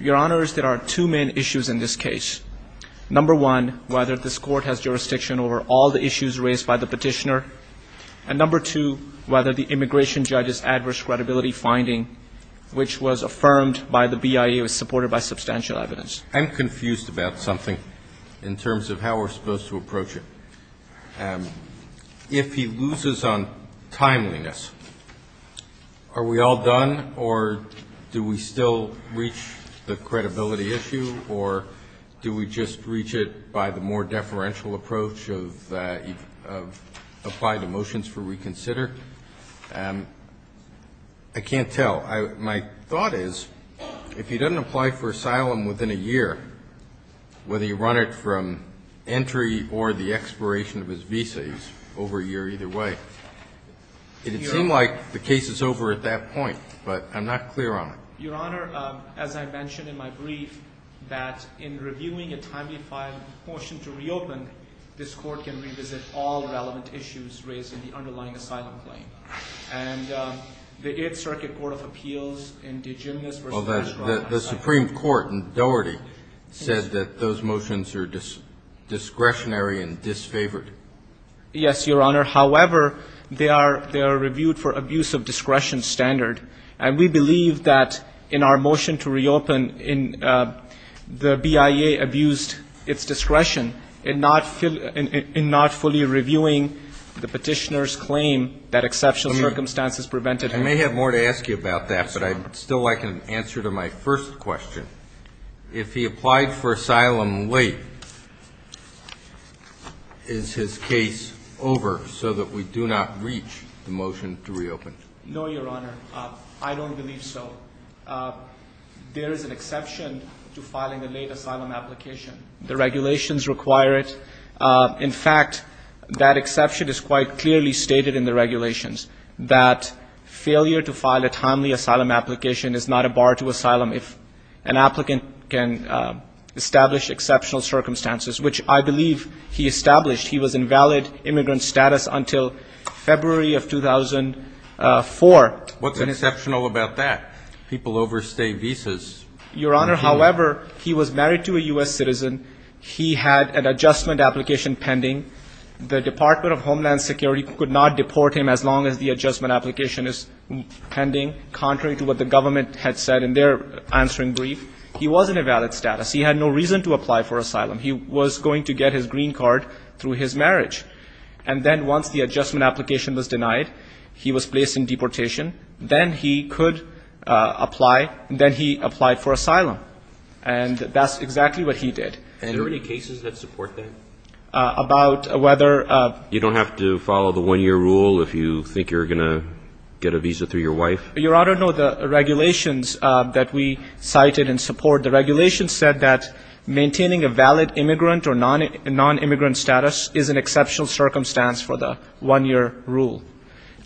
Your Honor, there are two main issues in this case. Number one, whether this Court has jurisdiction over all the issues raised by the petitioner. And number two, whether the immigration judge's adverse credibility finding, which was affirmed by the BIA, was supported by substantial evidence. I'm confused about something in terms of how we're supposed to approach it. If he loses on timeliness, are we all done, or do we still reach the credibility issue, or do we just reach it by the more deferential approach of applying the motions for reconsider? I can't tell. My thought is, if he doesn't apply for asylum within a year, whether you run it from entry or the expiration of his visa, he's over a year either way. It would seem like the case is over at that point, but I'm not clear on it. Your Honor, as I mentioned in my brief, that in reviewing a timely filed motion to reopen, this Court can revisit all relevant issues raised in the underlying asylum claim. And the Eighth Circuit Court of Appeals indigenous versus non-binary asylum. The Supreme Court in Doherty says that those motions are discretionary and disfavored. Yes, Your Honor. However, they are reviewed for abuse of discretion standard. And we believe that in our motion to reopen, the BIA abused its discretion in not fully reviewing the Petitioner's claim that exceptional circumstances prevented him. I may have more to ask you about that, but I'd still like an answer to my first question. If he applied for asylum late, is his case over so that we do not reach the motion to reopen? No, Your Honor. I don't believe so. There is an exception to filing a late asylum application. The regulations require it. In fact, that exception is quite clearly stated in the regulations that failure to file a timely asylum application is not a bar to asylum if an applicant can establish exceptional circumstances, which I believe he established. He was in valid immigrant status until February of 2004. What's exceptional about that? People overstay visas. Your Honor, however, he was married to a U.S. citizen. He had an adjustment application The Department of Homeland Security could not deport him as long as the adjustment application is pending. Contrary to what the government had said in their answering brief, he was in a valid status. He had no reason to apply for asylum. He was going to get his green card through his marriage. And then once the adjustment application was denied, he was placed in deportation. Then he could apply. Then he applied for asylum. And that's exactly what he did. Are there any cases that support that? About whether... You don't have to follow the one-year rule if you think you're going to get a visa through your wife? Your Honor, no. The regulations that we cited in support, the regulations said that maintaining a valid immigrant or non-immigrant status is an exceptional circumstance for the one-year rule.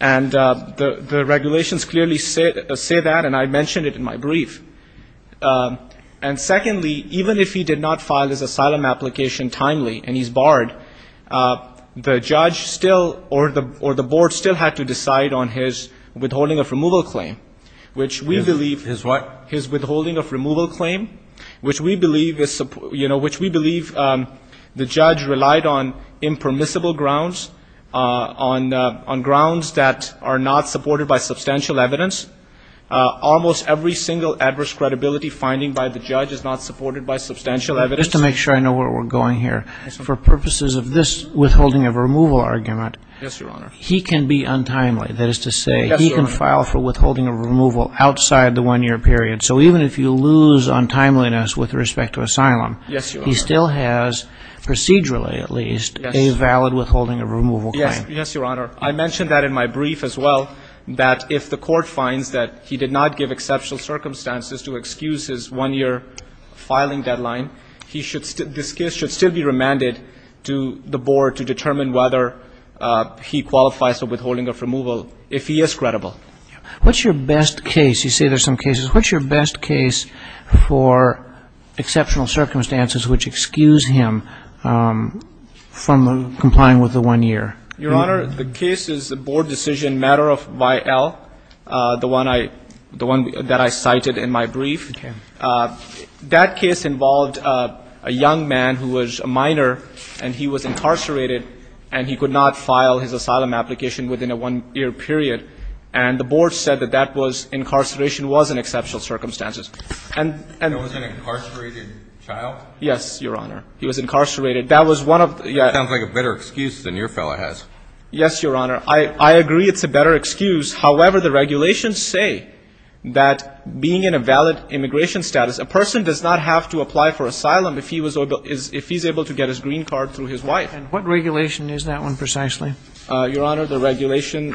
And the regulations clearly say that, and I mentioned it in my brief. And secondly, even if he did not file his asylum application timely and he's barred, the judge still, or the board still had to decide on his withholding of removal claim, which we believe... His what? His withholding of removal claim, which we believe the judge relied on impermissible grounds, on grounds that are not supported by substantial evidence. Almost every single adverse credibility finding by the judge is not supported by substantial evidence. Just to make sure I know where we're going here, for purposes of this withholding of removal argument, he can be untimely. That is to say he can file for withholding of removal outside the one-year period. So even if you lose untimeliness with respect to asylum, he still has, procedurally at least, a valid withholding of removal claim. Yes, Your Honor. I mentioned that in my brief as well, that if the court finds that he did not give exceptional circumstances to excuse his one-year filing deadline, he should still, this case should still be remanded to the board to determine whether he qualifies for withholding of removal if he is credible. What's your best case? You say there's some cases. What's your best case for exceptional circumstances which excuse him from complying with the one-year? Your Honor, the case is the board decision matter of Y.L., the one I, the one that I cited in my brief. Okay. That case involved a young man who was a minor, and he was incarcerated, and he could not file his asylum application within a one-year period. And the board said that that was, incarceration was in exceptional circumstances. And, and He was an incarcerated child? Yes, Your Honor. He was incarcerated. That was one of the It sounds like a better excuse than your fellow has. Yes, Your Honor. I, I agree it's a better excuse. However, the regulations say that being in a valid immigration status, a person does not have to apply for asylum if he was able, if he's able to get his green card through his wife. And what regulation is that one precisely? Your Honor, the regulation,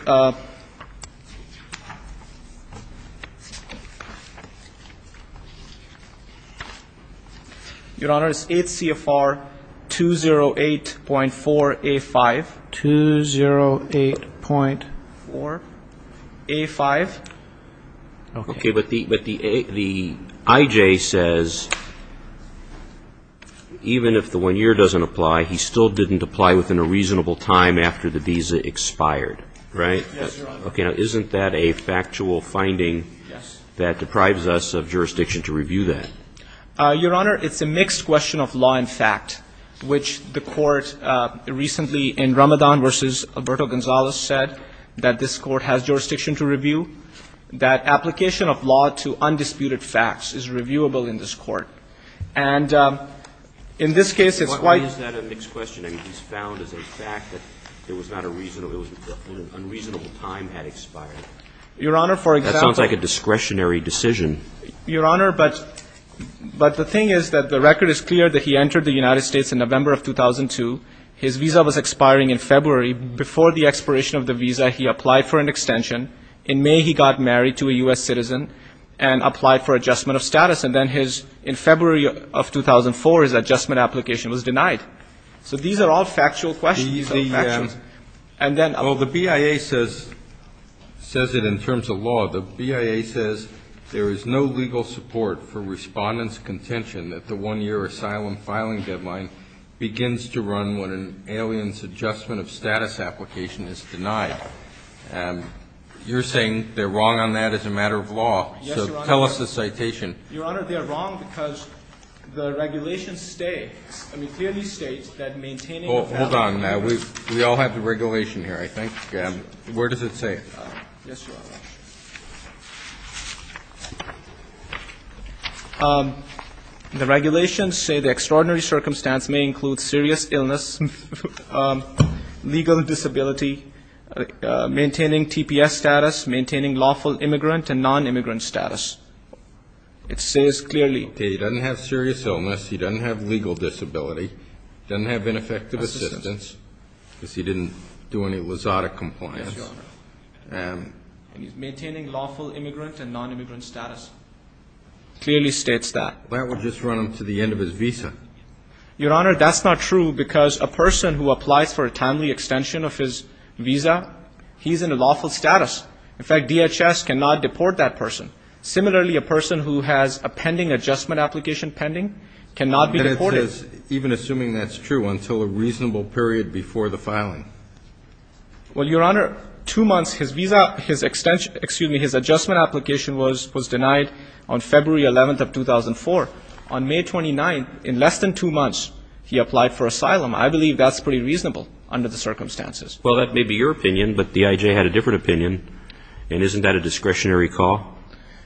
Your Honor, it's 8 CFR 208.4 A5. 208.4 A5. Okay. But the IJ says, even if the one-year doesn't apply, he still didn't apply within a reasonable time after the visa expired, right? Yes, Your Honor. Okay. Now, isn't that a factual finding that deprives us of jurisdiction to review that? Your Honor, it's a mixed question of law and fact, which the Court recently in Ramadan v. Alberto Gonzalez said that this Court has jurisdiction to review, that application of law to undisputed facts is reviewable in this Court. And in this case, it's quite Your Honor, but the thing is that the record is clear that he entered the United States in November of 2002. His visa was expiring in February. Before the expiration of the visa, he applied for an extension. In May, he got married to a U.S. citizen and applied for adjustment of status. And then his, in February of 2004, his adjustment application was denied. So these are all factual questions. Well, the BIA says it in terms of law. The BIA says there is no legal support for Respondent's contention that the one-year asylum filing deadline begins to run when an alien's adjustment of status application is denied. You're saying they're wrong on that as a matter of law. Yes, Your Honor. So tell us the citation. Your Honor, they are wrong because the regulations state, I mean, clearly state that maintaining Hold on now. We all have the regulation here, I think. Where does it say? Yes, Your Honor. The regulations say the extraordinary circumstance may include serious illness, legal disability, maintaining TPS status, maintaining lawful immigrant and nonimmigrant status. It says clearly. He doesn't have serious illness. He doesn't have legal disability. He doesn't have ineffective assistance because he didn't do any LASADA compliance. Yes, Your Honor. And he's maintaining lawful immigrant and nonimmigrant status. It clearly states that. That would just run him to the end of his visa. Your Honor, that's not true because a person who applies for a timely extension of his visa, he's in a lawful status. In fact, DHS cannot deport that person. Similarly, a person who has a pending adjustment application pending cannot be deported. And it says, even assuming that's true, until a reasonable period before the filing. Well, Your Honor, two months his visa, his extension, excuse me, his adjustment application was denied on February 11th of 2004. On May 29th, in less than two months, he applied for asylum. I believe that's pretty reasonable under the circumstances. Well, that may be your opinion, but the I.J. had a different opinion. And isn't that a discretionary call?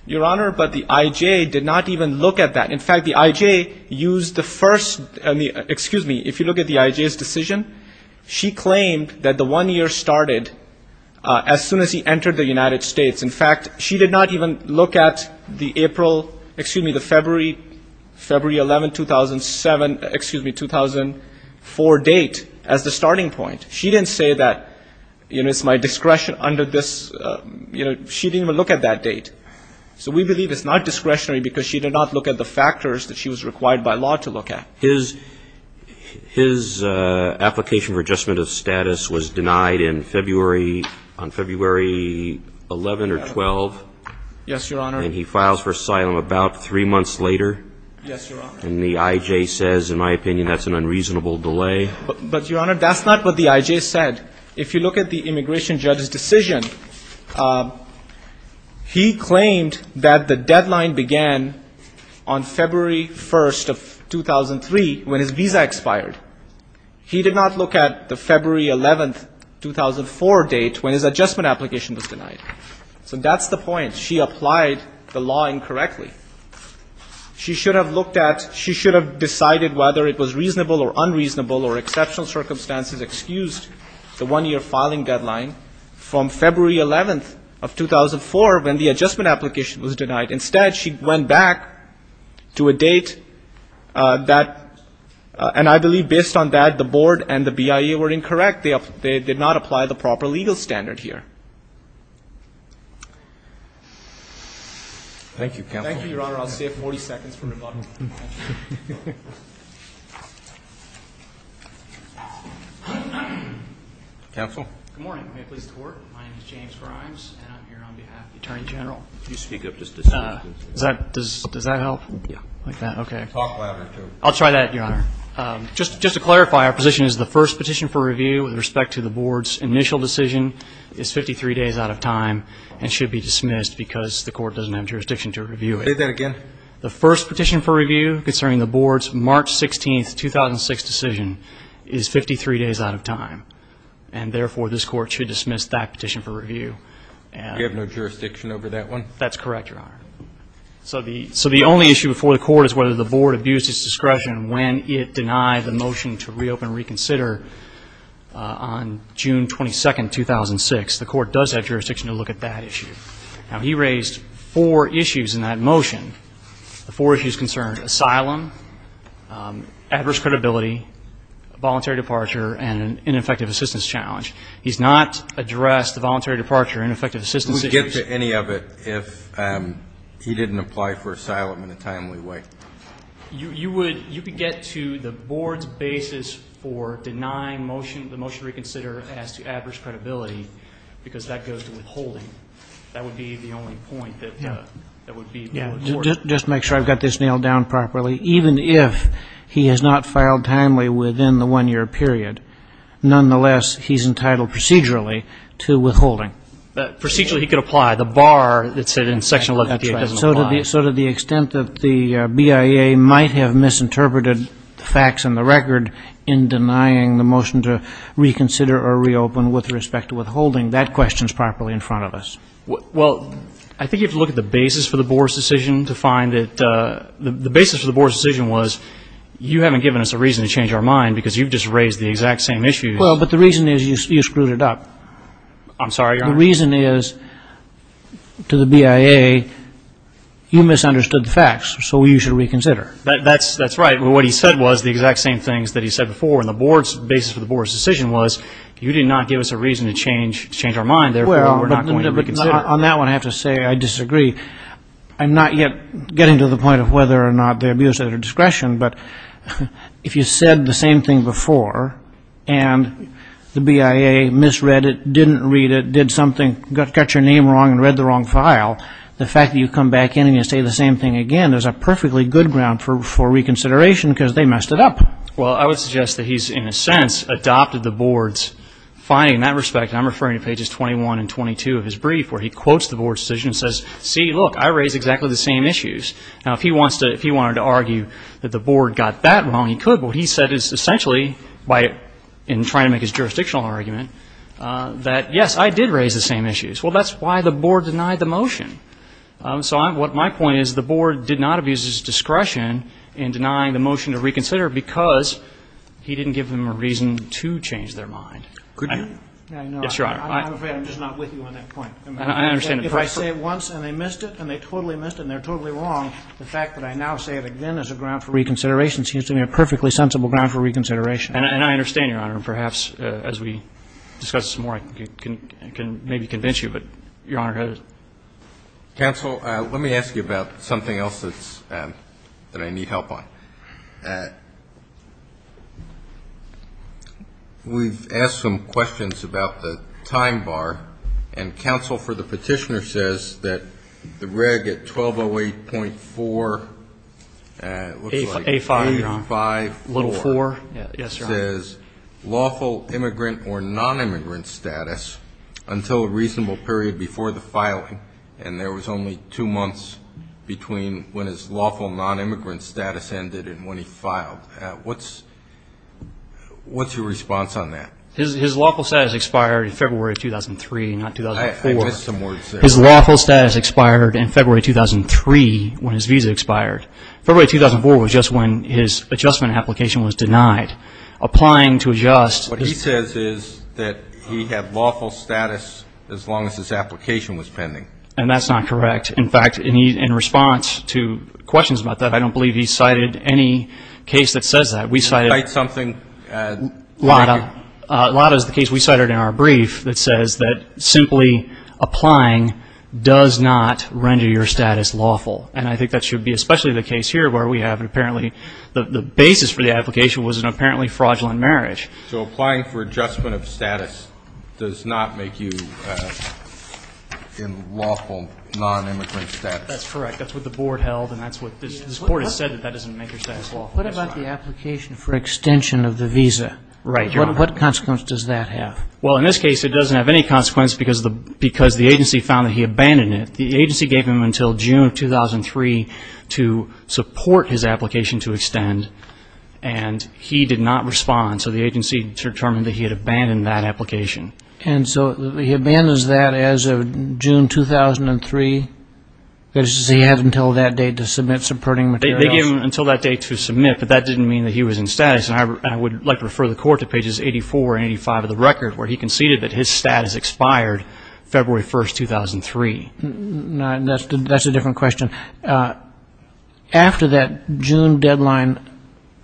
Your Honor, but the I.J. did not even look at that. In fact, the I.J. used the first, excuse me, if you look at the I.J.'s decision, she claimed that the one year started as soon as he entered the United States. In fact, she did not even look at the April, excuse me, the February 11, 2007, excuse me, 2004 date as the starting point. She didn't say that, you know, it's my discretion under this, you know, she didn't even look at that date. So we believe it's not discretionary because she did not look at the factors that she was required by law to look at. His application for adjustment of status was denied in February, on February 11 or 12. Yes, Your Honor. And he files for asylum about three months later. Yes, Your Honor. And the I.J. says, in my opinion, that's an unreasonable delay. But, Your Honor, that's not what the I.J. said. If you look at the immigration judge's decision, he claimed that the deadline began on February 1 of 2003 when his visa expired. He did not look at the February 11, 2004 date when his adjustment application was denied. So that's the point. She applied the law incorrectly. She should have looked at, she should have decided whether it was reasonable or unreasonable or exceptional circumstances, excused the one-year filing deadline from February 11 of 2004 when the adjustment application was denied. Instead, she went back to a date that, and I believe based on that, the board and the BIA were incorrect. They did not apply the proper legal standard here. Thank you, Counsel. Thank you, Your Honor. I'll stay up 40 seconds from the button. Counsel? Good morning. May it please the Court? My name is James Grimes, and I'm here on behalf of the Attorney General. Could you speak up just a second? Does that help? Okay. Talk louder, too. I'll try that, Your Honor. Just to clarify, our position is the first petition for review with respect to the board's initial decision is 53 days out of time and should be dismissed because the court doesn't have jurisdiction to review it. Say that again. The first petition for review concerning the board's March 16, 2006 decision is 53 days out of time, and therefore this court should dismiss that petition for review. You have no jurisdiction over that one? That's correct, Your Honor. So the only issue before the court is whether the board abused its discretion when it denied the motion to reopen and reconsider on June 22, 2006. The court does have jurisdiction to look at that issue. Now, he raised four issues in that motion. The four issues concerned asylum, adverse credibility, voluntary departure, and an ineffective assistance challenge. He's not addressed the voluntary departure and ineffective assistance issues. He wouldn't get to any of it if he didn't apply for asylum in a timely way. You could get to the board's basis for denying the motion to reconsider as to adverse credibility because that goes to withholding. That would be the only point that would be before the court. Just to make sure I've got this nailed down properly, even if he has not filed timely within the one-year period, nonetheless, he's entitled procedurally to withholding. Procedurally he could apply. The bar that said in Section 1188 doesn't apply. So to the extent that the BIA might have misinterpreted the facts in the record in denying the motion to reconsider or reopen with respect to withholding, that question is properly in front of us. Well, I think you have to look at the basis for the board's decision to find that the basis for the board's decision was you haven't given us a reason to change our mind because you've just raised the exact same issues. Well, but the reason is you screwed it up. I'm sorry, Your Honor. The reason is, to the BIA, you misunderstood the facts, so you should reconsider. That's right. What he said was the exact same things that he said before, and the basis for the board's decision was you did not give us a reason to change our mind, therefore, we're not going to reconsider. Well, on that one, I have to say I disagree. I'm not yet getting to the point of whether or not they abused their discretion, but if you said the same thing before and the BIA misread it, didn't read it, did something, got your name wrong and read the wrong file, the fact that you come back in and you say the same thing again, there's a perfectly good ground for reconsideration because they messed it up. Well, I would suggest that he's, in a sense, adopted the board's finding in that respect, and I'm referring to pages 21 and 22 of his brief where he quotes the board's decision and says, see, look, I raised exactly the same issues. Now, if he wanted to argue that the board got that wrong, he could, but what he said is essentially, in trying to make his jurisdictional argument, that, yes, I did raise the same issues. Well, that's why the board denied the motion. So my point is the board did not abuse its discretion in denying the motion to reconsider because he didn't give them a reason to change their mind. Could you? Yes, Your Honor. I understand the point. If I say it once and they missed it and they totally missed it and they're totally wrong, the fact that I now say it again as a ground for reconsideration seems to me a perfectly sensible ground for reconsideration. And I understand, Your Honor. And perhaps as we discuss some more, I can maybe convince you, but Your Honor has it. Counsel, let me ask you about something else that I need help on. We've asked some questions about the time bar, and counsel for the petitioner says that the reg at 1208.4, looks like 854. Yes, Your Honor. It says lawful immigrant or nonimmigrant status until a reasonable period before the filing, and there was only two months between when his lawful nonimmigrant status ended and when he filed. What's your response on that? His lawful status expired in February of 2003, not 2004. I missed some words there. His lawful status expired in February 2003 when his visa expired. February 2004 was just when his adjustment application was denied. Applying to adjust. What he says is that he had lawful status as long as his application was pending. And that's not correct. In fact, in response to questions about that, I don't believe he cited any case that says that. Did he cite something? Lada. Lada is the case we cited in our brief that says that simply applying does not render your status lawful, and I think that should be especially the case here where we have apparently the basis for the application was an apparently fraudulent marriage. So applying for adjustment of status does not make you in lawful nonimmigrant status. That's correct. That's what the board held, and that's what this court has said, that that doesn't make your status lawful. What about the application for extension of the visa? What consequence does that have? Well, in this case, it doesn't have any consequence because the agency found that he abandoned it. The agency gave him until June of 2003 to support his application to extend, and he did not respond. So the agency determined that he had abandoned that application. And so he abandons that as of June 2003, which he had until that date to submit supporting materials? They gave him until that date to submit, but that didn't mean that he was in status, and I would like to refer the court to pages 84 and 85 of the record, where he conceded that his status expired February 1, 2003. That's a different question. After that June deadline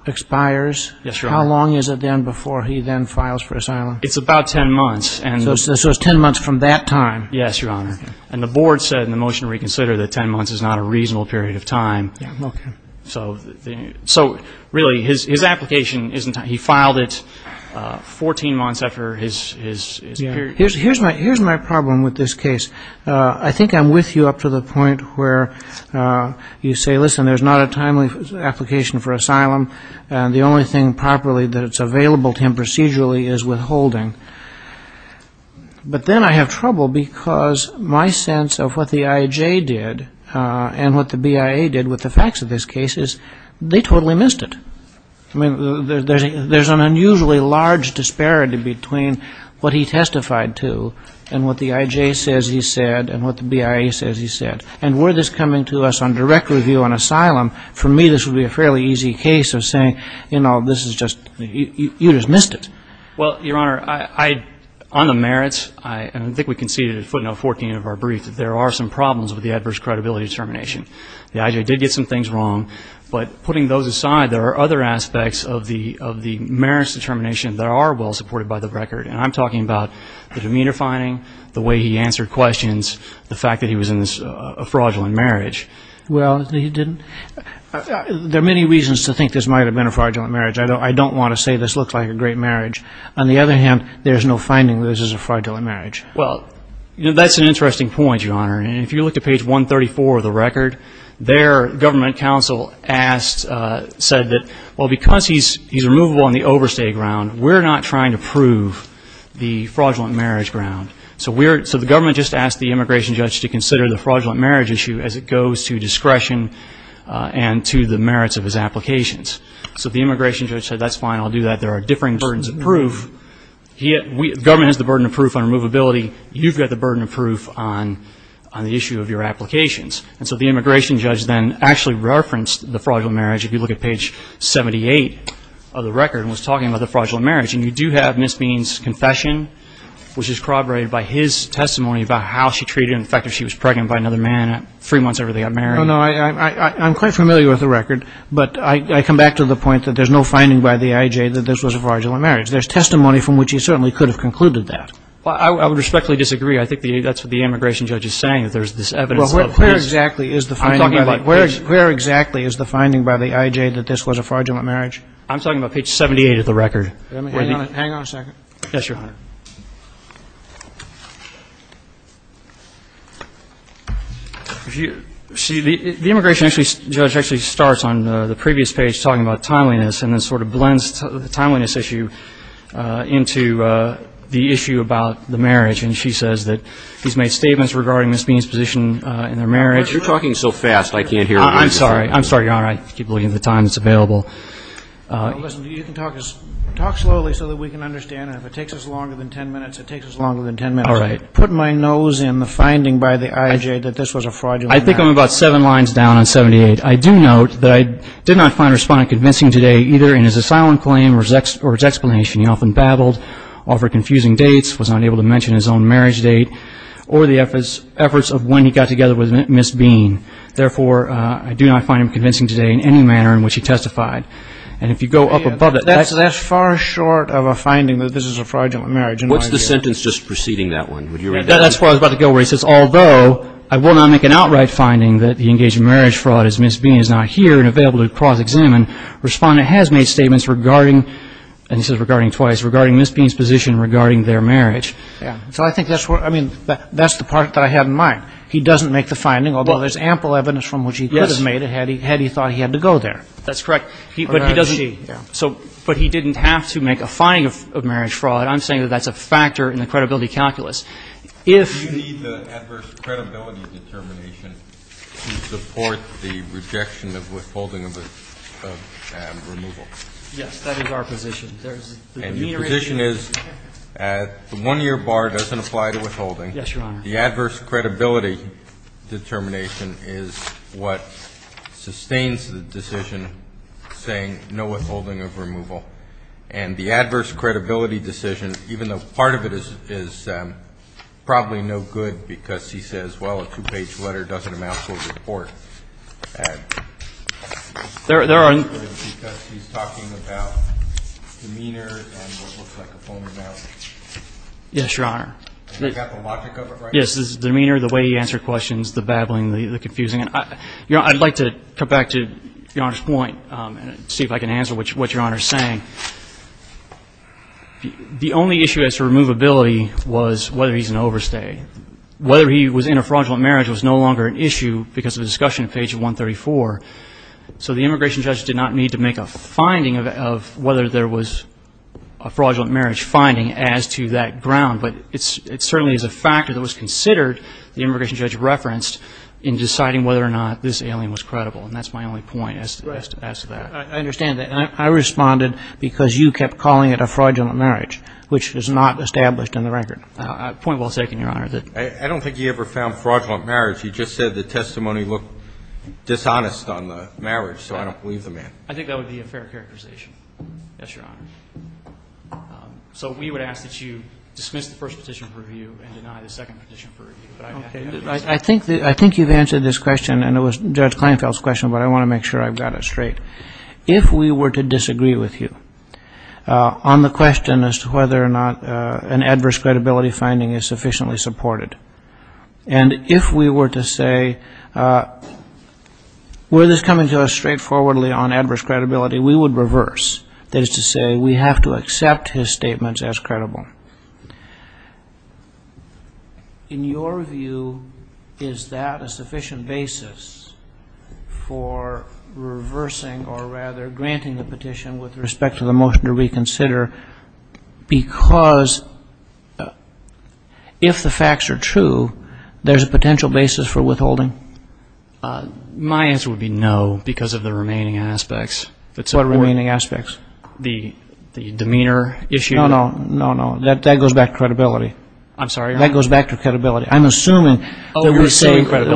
expires, how long is it then before he then files for asylum? It's about 10 months. So it's 10 months from that time. Yes, Your Honor. And the board said in the motion to reconsider that 10 months is not a reasonable period of time. Okay. So really, his application, he filed it 14 months after his period. Here's my problem with this case. I think I'm with you up to the point where you say, listen, there's not a timely application for asylum, and the only thing properly that's available to him procedurally is withholding. But then I have trouble because my sense of what the IJ did and what the BIA did with the facts of this case is they totally missed it. I mean, there's an unusually large disparity between what he testified to and what the IJ says he said and what the BIA says he said. And were this coming to us on direct review on asylum, for me this would be a fairly easy case of saying, you know, this is just, you just missed it. Well, Your Honor, on the merits, I think we conceded at footnote 14 of our brief that there are some problems with the adverse credibility determination. The IJ did get some things wrong, but putting those aside, there are other aspects of the merits determination that are well supported by the record. And I'm talking about the demunifying, the way he answered questions, the fact that he was in this fraudulent marriage. Well, he didn't. There are many reasons to think this might have been a fraudulent marriage. I don't want to say this looks like a great marriage. On the other hand, there's no finding that this is a fraudulent marriage. Well, that's an interesting point, Your Honor. And if you look at page 134 of the record, their government counsel asked, said that, well, because he's removable on the overstay ground, we're not trying to prove the fraudulent marriage ground. So the government just asked the immigration judge to consider the fraudulent marriage issue as it goes to discretion and to the merits of his applications. So the immigration judge said, that's fine, I'll do that. There are differing burdens of proof. The government has the burden of proof on removability. You've got the burden of proof on the issue of your applications. And so the immigration judge then actually referenced the fraudulent marriage. If you look at page 78 of the record, he was talking about the fraudulent marriage. And you do have Ms. Bean's confession, which is corroborated by his testimony about how she treated him, the fact that she was pregnant by another man three months after they got married. No, no, I'm quite familiar with the record. But I come back to the point that there's no finding by the IJ that this was a fraudulent marriage. There's testimony from which he certainly could have concluded that. Well, I would respectfully disagree. I think that's what the immigration judge is saying, that there's this evidence of a fraudulent marriage. Well, where exactly is the finding by the IJ that this was a fraudulent marriage? I'm talking about page 78 of the record. Hang on a second. Yes, Your Honor. See, the immigration judge actually starts on the previous page talking about timeliness and then sort of blends the timeliness issue into the issue about the marriage. And she says that he's made statements regarding Ms. Bean's position in their marriage. You're talking so fast I can't hear what you're saying. I'm sorry, Your Honor. I keep looking at the time that's available. Listen, you can talk slowly so that we can understand. And if it takes us longer than ten minutes, it takes us longer than ten minutes. All right. Put my nose in the finding by the IJ that this was a fraudulent marriage. I think I'm about seven lines down on 78. I do note that I did not find Respondent convincing today either in his asylum claim or his explanation. He often babbled, offered confusing dates, was unable to mention his own marriage date or the efforts of when he got together with Ms. Bean. Therefore, I do not find him convincing today in any manner in which he testified. And if you go up above it, that's far short of a finding that this is a fraudulent marriage. What's the sentence just preceding that one? That's where I was about to go where he says, although I will not make an outright finding that the engaged marriage fraud is Ms. Bean is not here and available to cross-examine, Respondent has made statements regarding, and he says regarding twice, regarding Ms. Bean's position regarding their marriage. So I think that's what, I mean, that's the part that I have in mind. He doesn't make the finding, although there's ample evidence from which he could have made it had he thought he had to go there. That's correct. But he doesn't. But he didn't have to make a finding of marriage fraud. I'm saying that that's a factor in the credibility calculus. If you need the adverse credibility determination to support the rejection of withholding of the removal. Yes, that is our position. And the position is the one-year bar doesn't apply to withholding. Yes, Your Honor. The adverse credibility determination is what sustains the decision saying no withholding of removal. And the adverse credibility decision, even though part of it is probably no good because he says, well, a two-page letter doesn't amount to a report. There are. Because he's talking about demeanor and what looks like a phone amount. Yes, Your Honor. He's got the logic of it, right? Yes, his demeanor, the way he answered questions, the babbling, the confusing. I'd like to come back to Your Honor's point and see if I can answer what Your Honor is saying. The only issue as to removability was whether he's an overstay. Whether he was in a fraudulent marriage was no longer an issue because of discussion on page 134. So the immigration judge did not need to make a finding of whether there was a fraudulent marriage finding as to that ground. But it certainly is a factor that was considered, the immigration judge referenced, in deciding whether or not this alien was credible. And that's my only point as to that. I understand that. And I responded because you kept calling it a fraudulent marriage, which is not established in the record. Point well taken, Your Honor. I don't think he ever found fraudulent marriage. He just said the testimony looked dishonest on the marriage. So I don't believe the man. I think that would be a fair characterization. Yes, Your Honor. So we would ask that you dismiss the first petition for review and deny the second petition for review. I think you've answered this question, and it was Judge Kleinfeld's question, but I want to make sure I've got it straight. If we were to disagree with you on the question as to whether or not an adverse credibility finding is sufficiently supported, and if we were to say were this coming to us straightforwardly on adverse credibility, we would reverse, that is to say we have to accept his statements as credible. In your view, is that a sufficient basis for reversing or rather granting the petition with respect to the motion to reconsider? Because if the facts are true, there's a potential basis for withholding? My answer would be no because of the remaining aspects. What remaining aspects? The demeanor issue. No, no, no, no. That goes back to credibility. I'm sorry, Your Honor? That goes back to credibility. I'm assuming that we're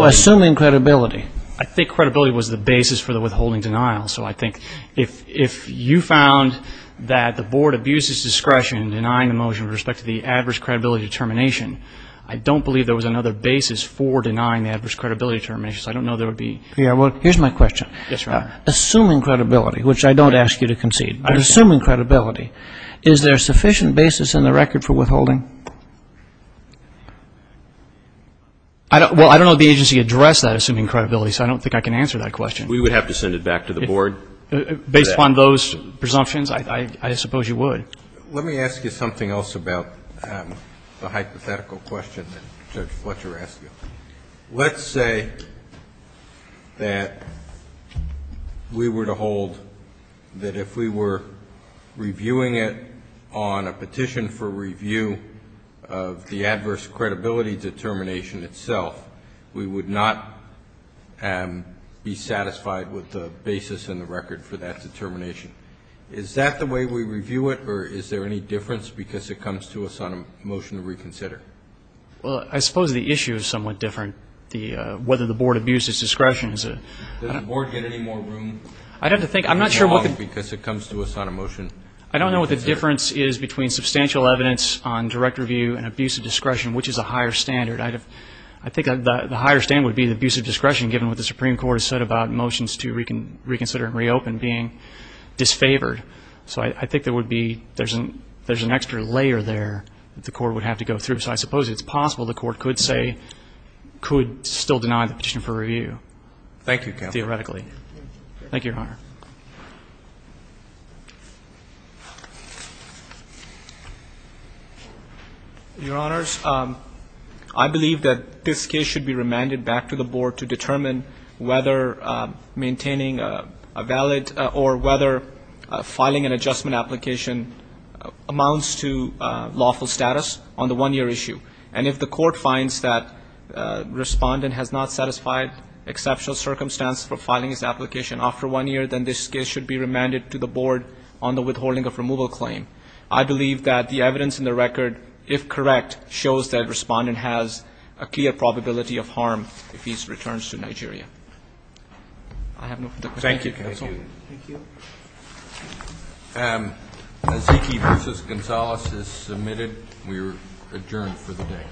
assuming credibility. I think credibility was the basis for the withholding denial. So I think if you found that the Board abuses discretion in denying the motion with respect to the adverse credibility determination, I don't believe there was another basis for denying the adverse credibility determination. I don't know there would be. Here's my question. Yes, Your Honor. Assuming credibility, which I don't ask you to concede, but assuming credibility, is there a sufficient basis in the record for withholding? Well, I don't know if the agency addressed that assuming credibility, so I don't think I can answer that question. We would have to send it back to the Board. Based upon those presumptions, I suppose you would. Let me ask you something else about the hypothetical question that Judge Fletcher asked you. Let's say that we were to hold that if we were reviewing it on a petition for review of the adverse credibility determination itself, we would not be satisfied with the basis in the record for that determination. Is that the way we review it, or is there any difference because it comes to us on a motion to reconsider? Well, I suppose the issue is somewhat different, whether the Board abuses discretion. Does the Board get any more room? I'd have to think. I'm not sure. Because it comes to us on a motion. I don't know what the difference is between substantial evidence on direct review and abuse of discretion, which is a higher standard. I think the higher standard would be the abuse of discretion, given what the Supreme Court has said about motions to reconsider and reopen being disfavored. So I think there would be, there's an extra layer there that the Court would have to go through. So I suppose it's possible the Court could say, could still deny the petition for review. Thank you, counsel. Thank you, Your Honor. Your Honors, I believe that this case should be remanded back to the Board to determine whether maintaining a valid or whether filing an adjustment application amounts to lawful status on the one-year issue. And if the Court finds that the respondent has not satisfied exceptional circumstance for filing his application after one year, then this case should be remanded to the Board on the withholding of removal claim. I believe that the evidence in the record, if correct, shows that the respondent has a clear probability of harm if he returns to Nigeria. I have no further questions. Thank you, counsel. Thank you. Aziki v. Gonzalez is submitted. We are adjourned for the day.